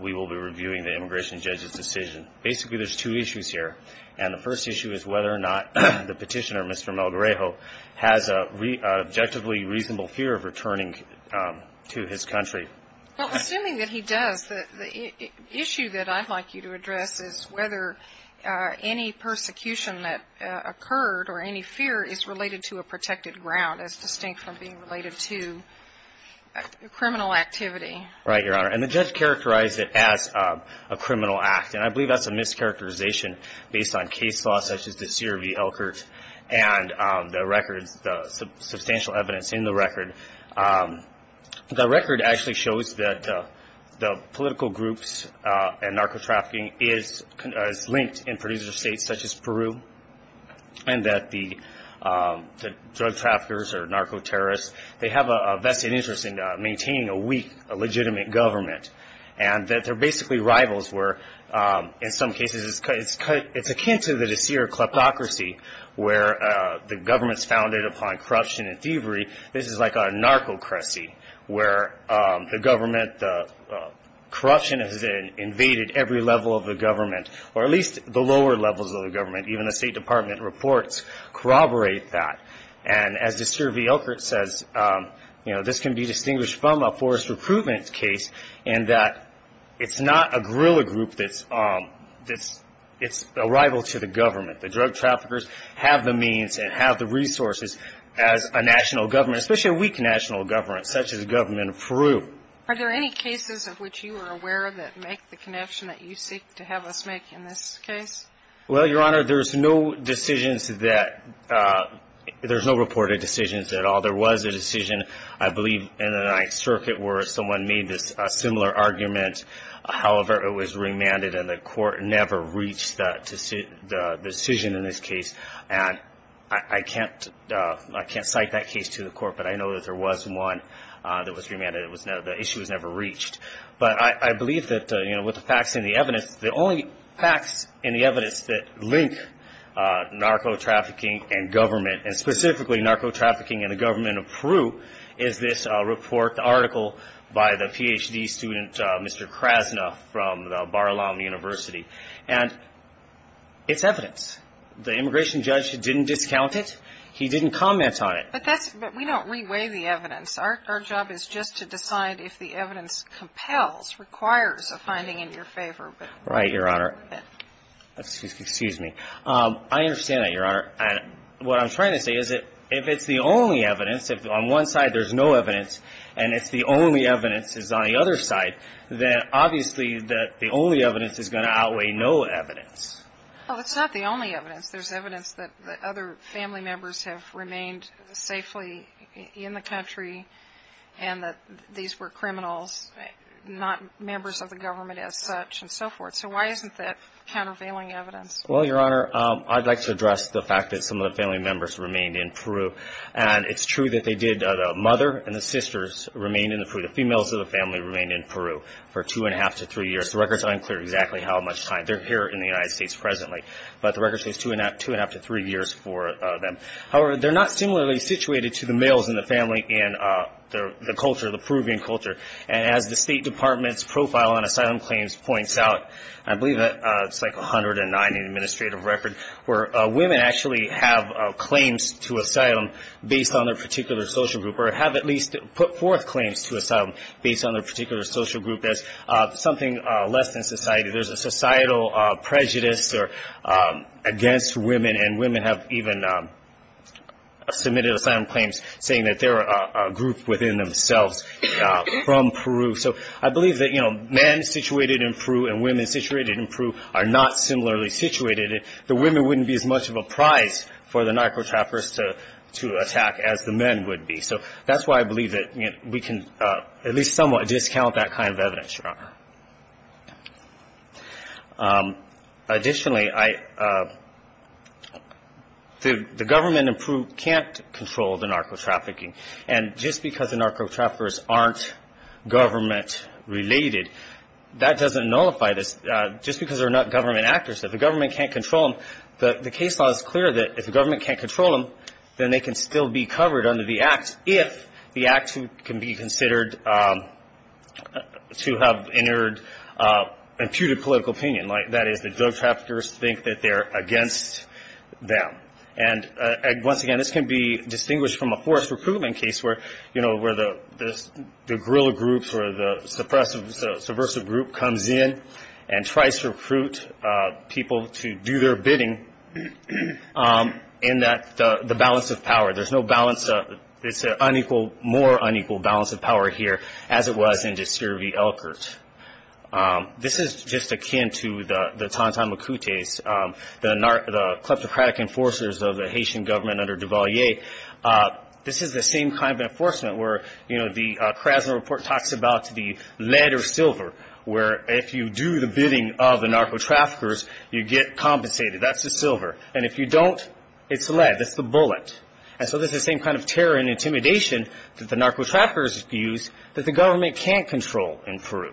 we will be reviewing the immigration judge's decision. Basically, there's two issues here, and the first issue is whether or not the petitioner, Mr. Melgarejo, has an objectively reasonable fear of returning to his country. Well, assuming that he does, the issue that I'd like you to address is whether any persecution that occurred or any fear is related to a protected ground as distinct from being related to criminal activity. Right, Your Honor, and the judge characterized it as a criminal act, and I believe that's a mischaracterization based on case law such as the CRV Elkhurst and the records, the substantial evidence in the record. The record actually shows that the political groups and narco-trafficking is linked in producer states such as Peru and that the drug traffickers or narco-terrorists, they have a vested interest in maintaining a weak legitimate government, and that they're basically rivals where, in some cases, it's akin to the De Sere kleptocracy where the government's founded upon corruption and thievery. This is like a narco-cracy where the government, corruption has invaded every level of the government, or at least the lower levels of the government. Even the State Department reports corroborate that, and as De Sere v. Elkhurst says, this can be distinguished from a forced recruitment case in that it's not a guerrilla group, it's a rival to the government. The drug traffickers have the means and have the resources as a national government, especially a weak national government such as the government of Peru. Are there any cases of which you are aware that make the connection that you seek to have us make in this case? Well, Your Honor, there's no decisions that, there's no reported decisions at all. There was a decision, I believe, in the Ninth Circuit where someone made a similar argument. However, it was remanded and the court never reached the decision in this case. And I can't cite that case to the court, but I know that there was one that was remanded. The issue was never reached. But I believe that, you know, with the facts and the evidence, the only facts and the evidence that link narco-trafficking and government, and specifically narco-trafficking and the government of Peru, is this report, the article by the Ph.D. student Mr. Krasna from Bar-Ilam University. And it's evidence. The immigration judge didn't discount it. He didn't comment on it. But that's, but we don't re-weigh the evidence. Our job is just to decide if the evidence compels, requires a finding in your favor. Right, Your Honor. Excuse me. I understand that, Your Honor. What I'm trying to say is that if it's the only evidence, if on one side there's no evidence, and if the only evidence is on the other side, then obviously the only evidence is going to outweigh no evidence. Well, it's not the only evidence. There's evidence that other family members have remained safely in the country and that these were criminals, not members of the government as such and so forth. So why isn't that countervailing evidence? Well, Your Honor, I'd like to address the fact that some of the family members remained in Peru. And it's true that they did. The mother and the sisters remained in Peru. The females of the family remained in Peru for two and a half to three years. The record's unclear exactly how much time. They're here in the United States presently. But the record says two and a half to three years for them. However, they're not similarly situated to the males in the family in the culture, the Peruvian culture. And as the State Department's profile on asylum claims points out, I believe it's like 109 in the administrative record, where women actually have claims to asylum based on their particular social group or have at least put forth claims to asylum based on their particular social group as something less than society. There's a societal prejudice against women. And women have even submitted asylum claims saying that they're a group within themselves from Peru. So I believe that, you know, men situated in Peru and women situated in Peru are not similarly situated. The women wouldn't be as much of a prize for the narco-trappers to attack as the men would be. So that's why I believe that we can at least somewhat discount that kind of evidence, Your Honor. Additionally, the government in Peru can't control the narco-trafficking. And just because the narco-traffickers aren't government related, that doesn't nullify this. Just because they're not government actors, if the government can't control them, the case law is clear that if the government can't control them, then they can still be covered under the act if the act can be considered to have entered imputed political opinion. That is, the drug traffickers think that they're against them. And once again, this can be distinguished from a forced recruitment case where, you know, where the guerrilla groups or the subversive group comes in and tries to recruit people to do their bidding in the balance of power. There's no balance. It's an unequal, more unequal balance of power here as it was in Desiree v. Elkert. This is just akin to the Tantan Makutes, the kleptocratic enforcers of the Haitian government under Duvalier. This is the same kind of enforcement where, you know, the Krasner Report talks about the lead or silver, where if you do the bidding of the narcotraffickers, you get compensated. That's the silver. And if you don't, it's the lead. That's the bullet. And so there's the same kind of terror and intimidation that the narcotraffickers use that the government can't control in Peru.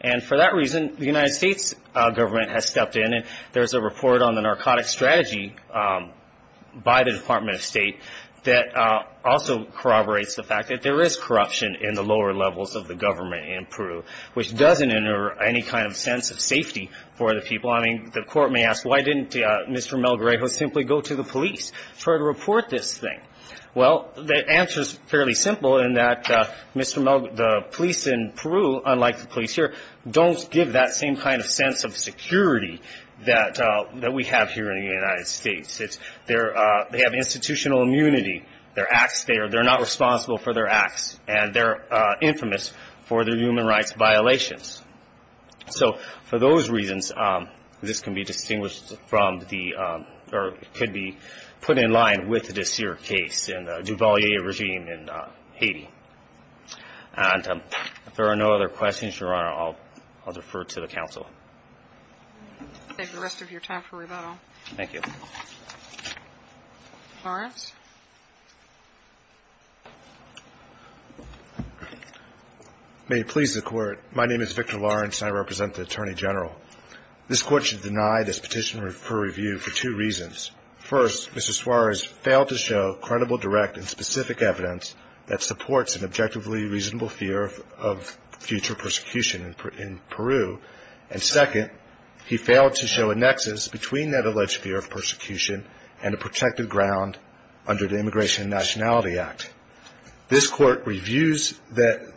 And for that reason, the United States government has stepped in, and there's a report on the narcotic strategy by the Department of State that also corroborates the fact that there is corruption in the lower levels of the government in Peru, which doesn't enter any kind of sense of safety for the people. I mean, the court may ask, why didn't Mr. Melgarejo simply go to the police to report this thing? Well, the answer is fairly simple in that the police in Peru, unlike the police here, don't give that same kind of sense of security that we have here in the United States. They have institutional immunity. They're not responsible for their acts, and they're infamous for their human rights violations. So for those reasons, this can be distinguished from the or could be put in line with the Desir case and the Duvalier regime in Haiti. And if there are no other questions, Your Honor, I'll defer to the counsel. I'll take the rest of your time for rebuttal. Thank you. Lawrence. May it please the Court, my name is Victor Lawrence, and I represent the Attorney General. This Court should deny this petition for review for two reasons. First, Mr. Suarez failed to show credible, direct, and specific evidence that supports an objectively reasonable fear of future persecution in Peru, and second, he failed to show a nexus between that alleged fear of persecution and a protected ground under the Immigration and Nationality Act. This Court reviews the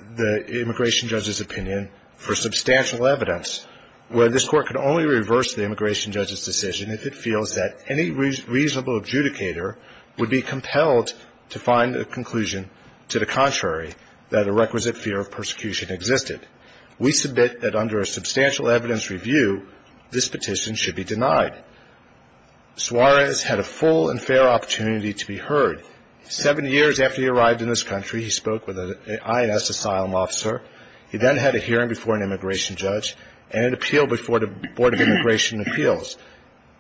immigration judge's opinion for substantial evidence, where this Court can only reverse the immigration judge's decision if it feels that any reasonable adjudicator would be compelled to find a conclusion to the contrary, that a requisite fear of persecution existed. We submit that under a substantial evidence review, this petition should be denied. Suarez had a full and fair opportunity to be heard. Seven years after he arrived in this country, he spoke with an INS asylum officer. He then had a hearing before an immigration judge and an appeal before the Board of Immigration Appeals.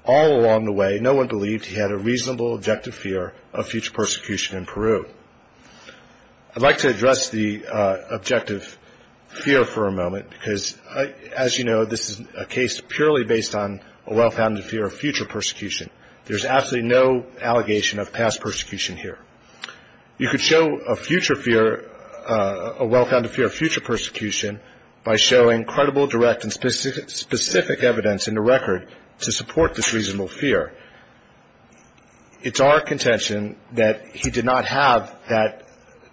All along the way, no one believed he had a reasonable objective fear of future persecution in Peru. I'd like to address the objective fear for a moment because, as you know, this is a case purely based on a well-founded fear of future persecution. There's absolutely no allegation of past persecution here. You could show a future fear, a well-founded fear of future persecution, by showing credible, direct, and specific evidence in the record to support this reasonable fear. It's our contention that he did not have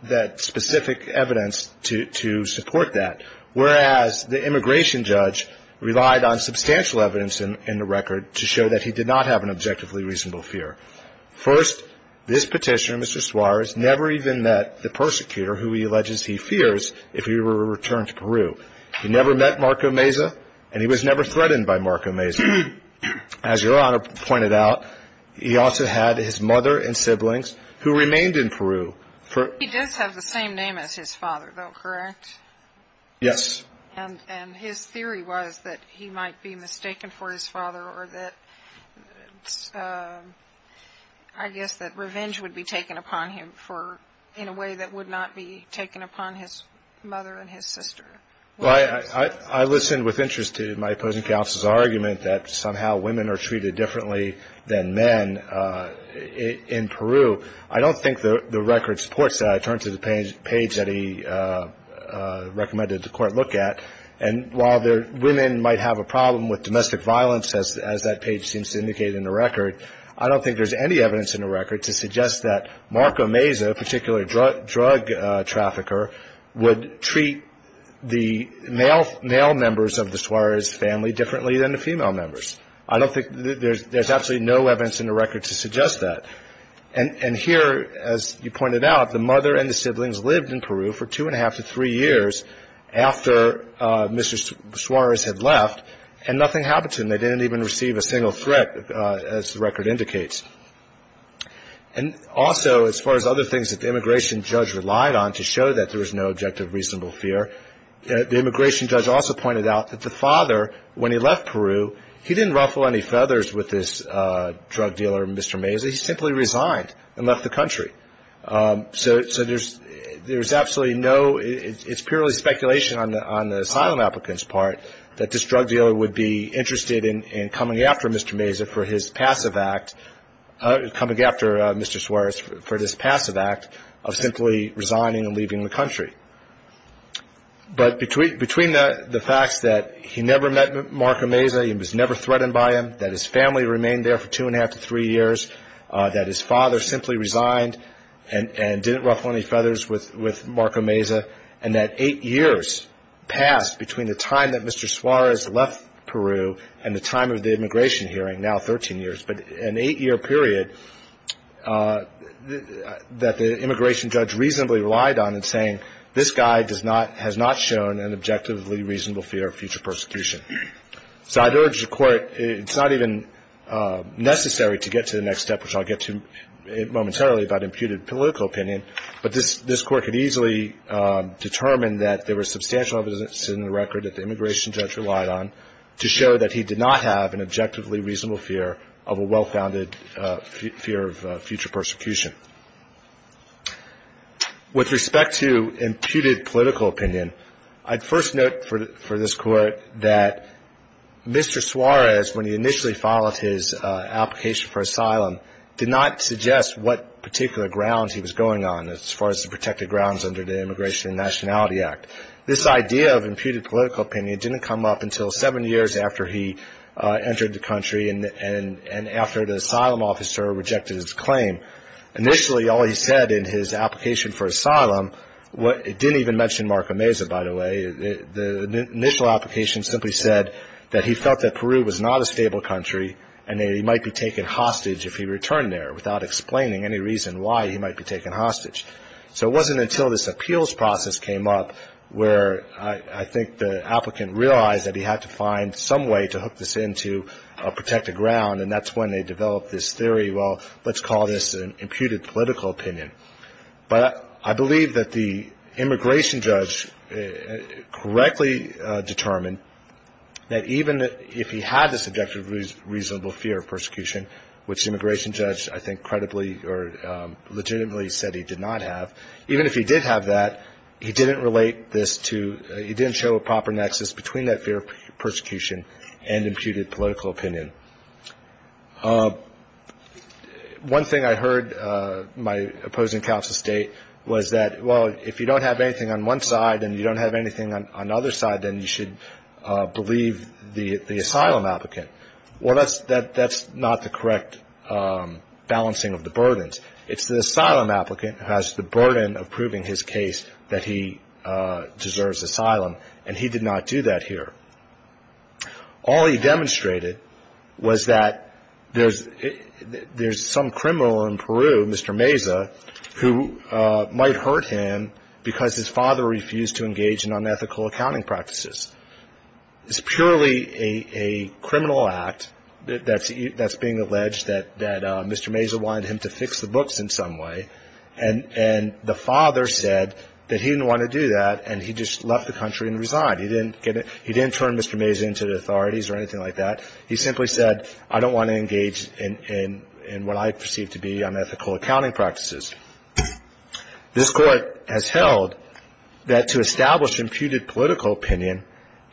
that specific evidence to support that, whereas the immigration judge relied on substantial evidence in the record to show that he did not have an objectively reasonable fear. First, this petitioner, Mr. Suarez, never even met the persecutor who he alleges he fears if he were to return to Peru. He never met Marco Meza, and he was never threatened by Marco Meza. As Your Honor pointed out, he also had his mother and siblings who remained in Peru. He does have the same name as his father, though, correct? Yes. And his theory was that he might be mistaken for his father or that, I guess, that revenge would be taken upon him in a way that would not be taken upon his mother and his sister. Well, I listened with interest to my opposing counsel's argument that somehow women are treated differently than men in Peru. I don't think the record supports that. I turned to the page that he recommended the court look at, and while women might have a problem with domestic violence, as that page seems to indicate in the record, I don't think there's any evidence in the record to suggest that Marco Meza, a particular drug trafficker, would treat the male members of the Suarez family differently than the female members. I don't think there's absolutely no evidence in the record to suggest that. And here, as you pointed out, the mother and the siblings lived in Peru for two-and-a-half to three years after Mr. Suarez had left, and nothing happened to them. They didn't even receive a single threat, as the record indicates. And also, as far as other things that the immigration judge relied on to show that there was no objective reasonable fear, the immigration judge also pointed out that the father, when he left Peru, he didn't ruffle any feathers with this drug dealer, Mr. Meza. He simply resigned and left the country. So there's absolutely no, it's purely speculation on the asylum applicant's part, that this drug dealer would be interested in coming after Mr. Meza for his passive act, coming after Mr. Suarez for this passive act of simply resigning and leaving the country. But between the facts that he never met Marco Meza, he was never threatened by him, that his family remained there for two-and-a-half to three years, that his father simply resigned and didn't ruffle any feathers with Marco Meza, and that eight years passed between the time that Mr. Suarez left Peru and the time of the immigration hearing, now 13 years, but an eight-year period that the immigration judge reasonably relied on in saying, this guy does not, has not shown an objectively reasonable fear of future persecution. So I'd urge the Court, it's not even necessary to get to the next step, which I'll get to momentarily about imputed political opinion, but this Court could easily determine that there was substantial evidence in the record that the immigration judge relied on to show that he did not have an objectively reasonable fear of a well-founded fear of future persecution. With respect to imputed political opinion, I'd first note for this Court that Mr. Suarez, when he initially filed his application for asylum, did not suggest what particular grounds he was going on as far as the protected grounds under the Immigration and Nationality Act. This idea of imputed political opinion didn't come up until seven years after he entered the country and after the asylum officer rejected his claim. Initially, all he said in his application for asylum didn't even mention Marco Meza, by the way. The initial application simply said that he felt that Peru was not a stable country and that he might be taken hostage if he returned there without explaining any reason why he might be taken hostage. So it wasn't until this appeals process came up where I think the applicant realized that he had to find some way to hook this into a protected ground, and that's when they developed this theory, well, let's call this an imputed political opinion. But I believe that the immigration judge correctly determined that even if he had this objective reasonable fear of persecution, which the immigration judge I think credibly or legitimately said he did not have, even if he did have that, he didn't show a proper nexus between that fear of persecution and imputed political opinion. One thing I heard my opposing counsel state was that, well, if you don't have anything on one side and you don't have anything on the other side, then you should believe the asylum applicant. Well, that's not the correct balancing of the burdens. It's the asylum applicant who has the burden of proving his case that he deserves asylum, and he did not do that here. All he demonstrated was that there's some criminal in Peru, Mr. Meza, who might hurt him because his father refused to engage in unethical accounting practices. It's purely a criminal act that's being alleged that Mr. Meza wanted him to fix the books in some way, and the father said that he didn't want to do that, and he just left the country and resigned. He didn't turn Mr. Meza into the authorities or anything like that. He simply said, I don't want to engage in what I perceive to be unethical accounting practices. This Court has held that to establish imputed political opinion,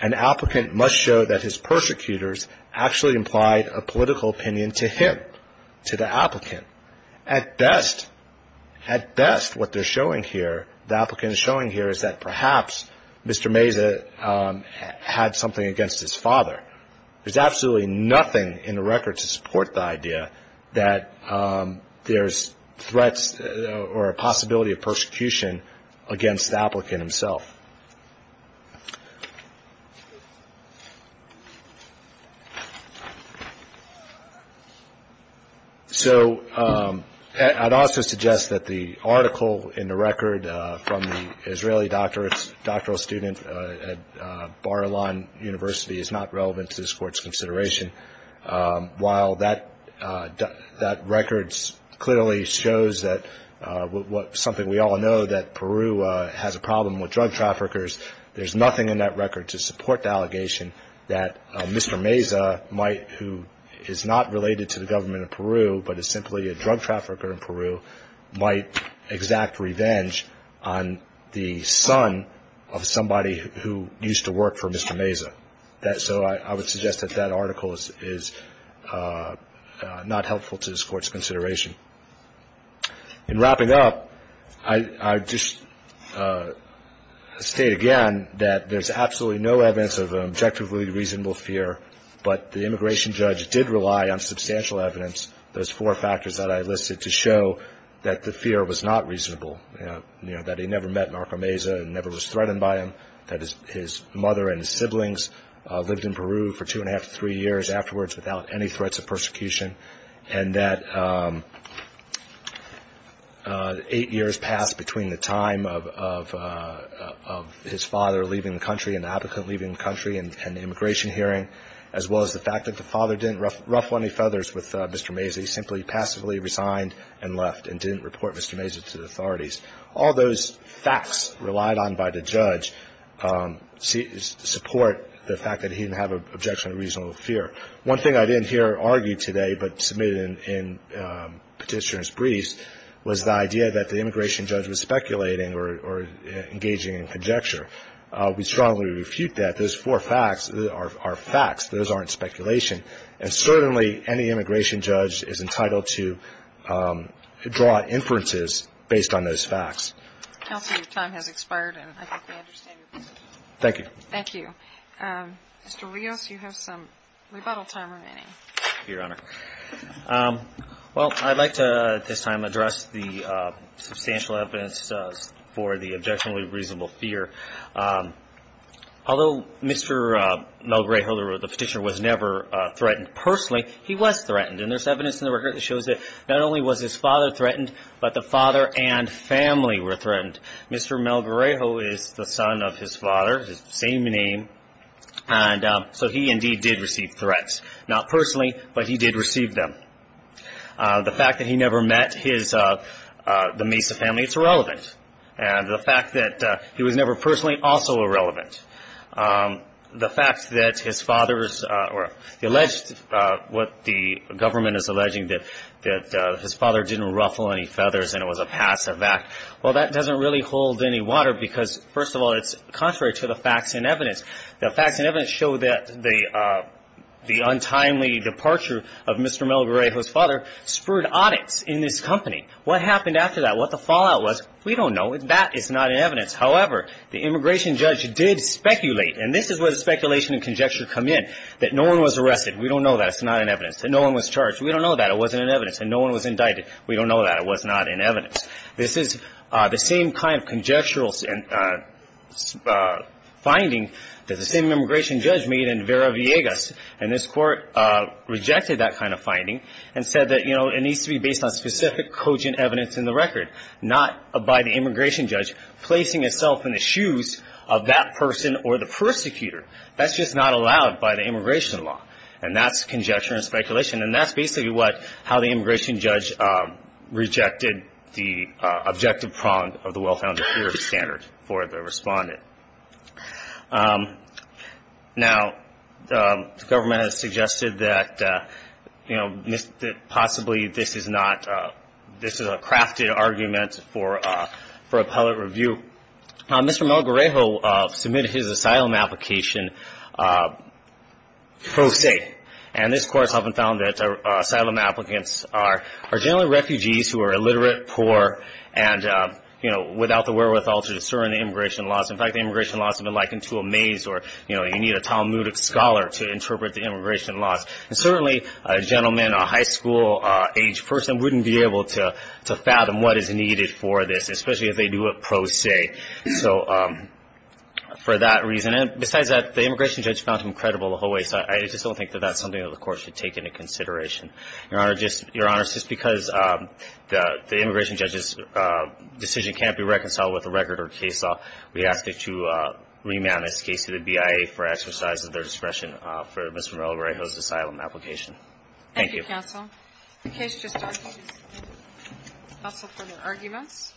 an applicant must show that his persecutors actually implied a political opinion to him, to the applicant. At best, what they're showing here, the applicant is showing here, is that perhaps Mr. Meza had something against his father. There's absolutely nothing in the record to support the idea that there's threats or a possibility of persecution against the applicant himself. So I'd also suggest that the article in the record from the Israeli doctoral student at Bar-Ilan University is not relevant to this Court's consideration. While that record clearly shows something we all know, that Peru has a problem with drug traffickers, there's nothing in that record to support the allegation that Mr. Meza, who is not related to the government of Peru but is simply a drug trafficker in Peru, might exact revenge on the son of somebody who used to work for Mr. Meza. So I would suggest that that article is not helpful to this Court's consideration. In wrapping up, I'd just state again that there's absolutely no evidence of an objectively reasonable fear, but the immigration judge did rely on substantial evidence, those four factors that I listed, to show that the fear was not reasonable, that he never met Marco Meza and never was threatened by him, that his mother and his siblings lived in Peru for two-and-a-half to three years afterwards without any threats of persecution, and that eight years passed between the time of his father leaving the country and the applicant leaving the country and the immigration hearing, as well as the fact that the father didn't ruffle any feathers with Mr. Meza. He simply passively resigned and left and didn't report Mr. Meza to the authorities. All those facts relied on by the judge support the fact that he didn't have an objection to reasonable fear. One thing I didn't hear argued today but submitted in Petitioner's briefs was the idea that the immigration judge was speculating or engaging in conjecture. We strongly refute that. Those four facts are facts. Those aren't speculation. And certainly any immigration judge is entitled to draw inferences based on those facts. Counsel, your time has expired, and I think we understand your position. Thank you. Thank you. Mr. Rios, you have some rebuttal time remaining. Thank you, Your Honor. Well, I'd like to at this time address the substantial evidence for the objection to reasonable fear. Although Mr. Melgarejo, the Petitioner, was never threatened personally, he was threatened, and there's evidence in the record that shows that not only was his father threatened, but the father and family were threatened. Mr. Melgarejo is the son of his father, his same name, and so he indeed did receive threats, not personally, but he did receive them. The fact that he never met the Mesa family, it's irrelevant. And the fact that he was never personally, also irrelevant. The fact that his father's alleged, what the government is alleging, that his father didn't ruffle any feathers and it was a passive act, well, that doesn't really hold any water because, first of all, it's contrary to the facts and evidence. The facts and evidence show that the untimely departure of Mr. Melgarejo's father spurred audits in this company. What happened after that? What the fallout was? We don't know. That is not in evidence. However, the immigration judge did speculate, and this is where the speculation and conjecture come in, that no one was arrested. We don't know that. It's not in evidence. That no one was charged. We don't know that. It wasn't in evidence. And no one was indicted. We don't know that. It was not in evidence. This is the same kind of conjectural finding that the same immigration judge made in Vera Viegas, and this court rejected that kind of finding and said that, you know, it needs to be based on specific cogent evidence in the record, not by the immigration judge placing itself in the shoes of that person or the persecutor. That's just not allowed by the immigration law, and that's conjecture and speculation, and that's basically how the immigration judge rejected the objective prong of the well-founded standard for the respondent. Now, the government has suggested that, you know, possibly this is a crafted argument for appellate review. Mr. Malgorrejo submitted his asylum application pro se, and this court has often found that asylum applicants are generally refugees who are illiterate, poor, and, you know, without the wherewithal to discern the immigration laws. In fact, the immigration laws have been likened to a maze, or, you know, you need a Talmudic scholar to interpret the immigration laws. And certainly a gentleman, a high school-aged person, wouldn't be able to fathom what is needed for this, especially if they do it pro se. So for that reason, and besides that, the immigration judge found him credible the whole way, I just don't think that that's something that the court should take into consideration. Your Honor, just because the immigration judge's decision can't be reconciled with a record or case law, we ask that you remand this case to the BIA for exercise of their discretion for Mr. Malgorrejo's asylum application. Thank you. Thank you, counsel. The case just concludes. No further arguments.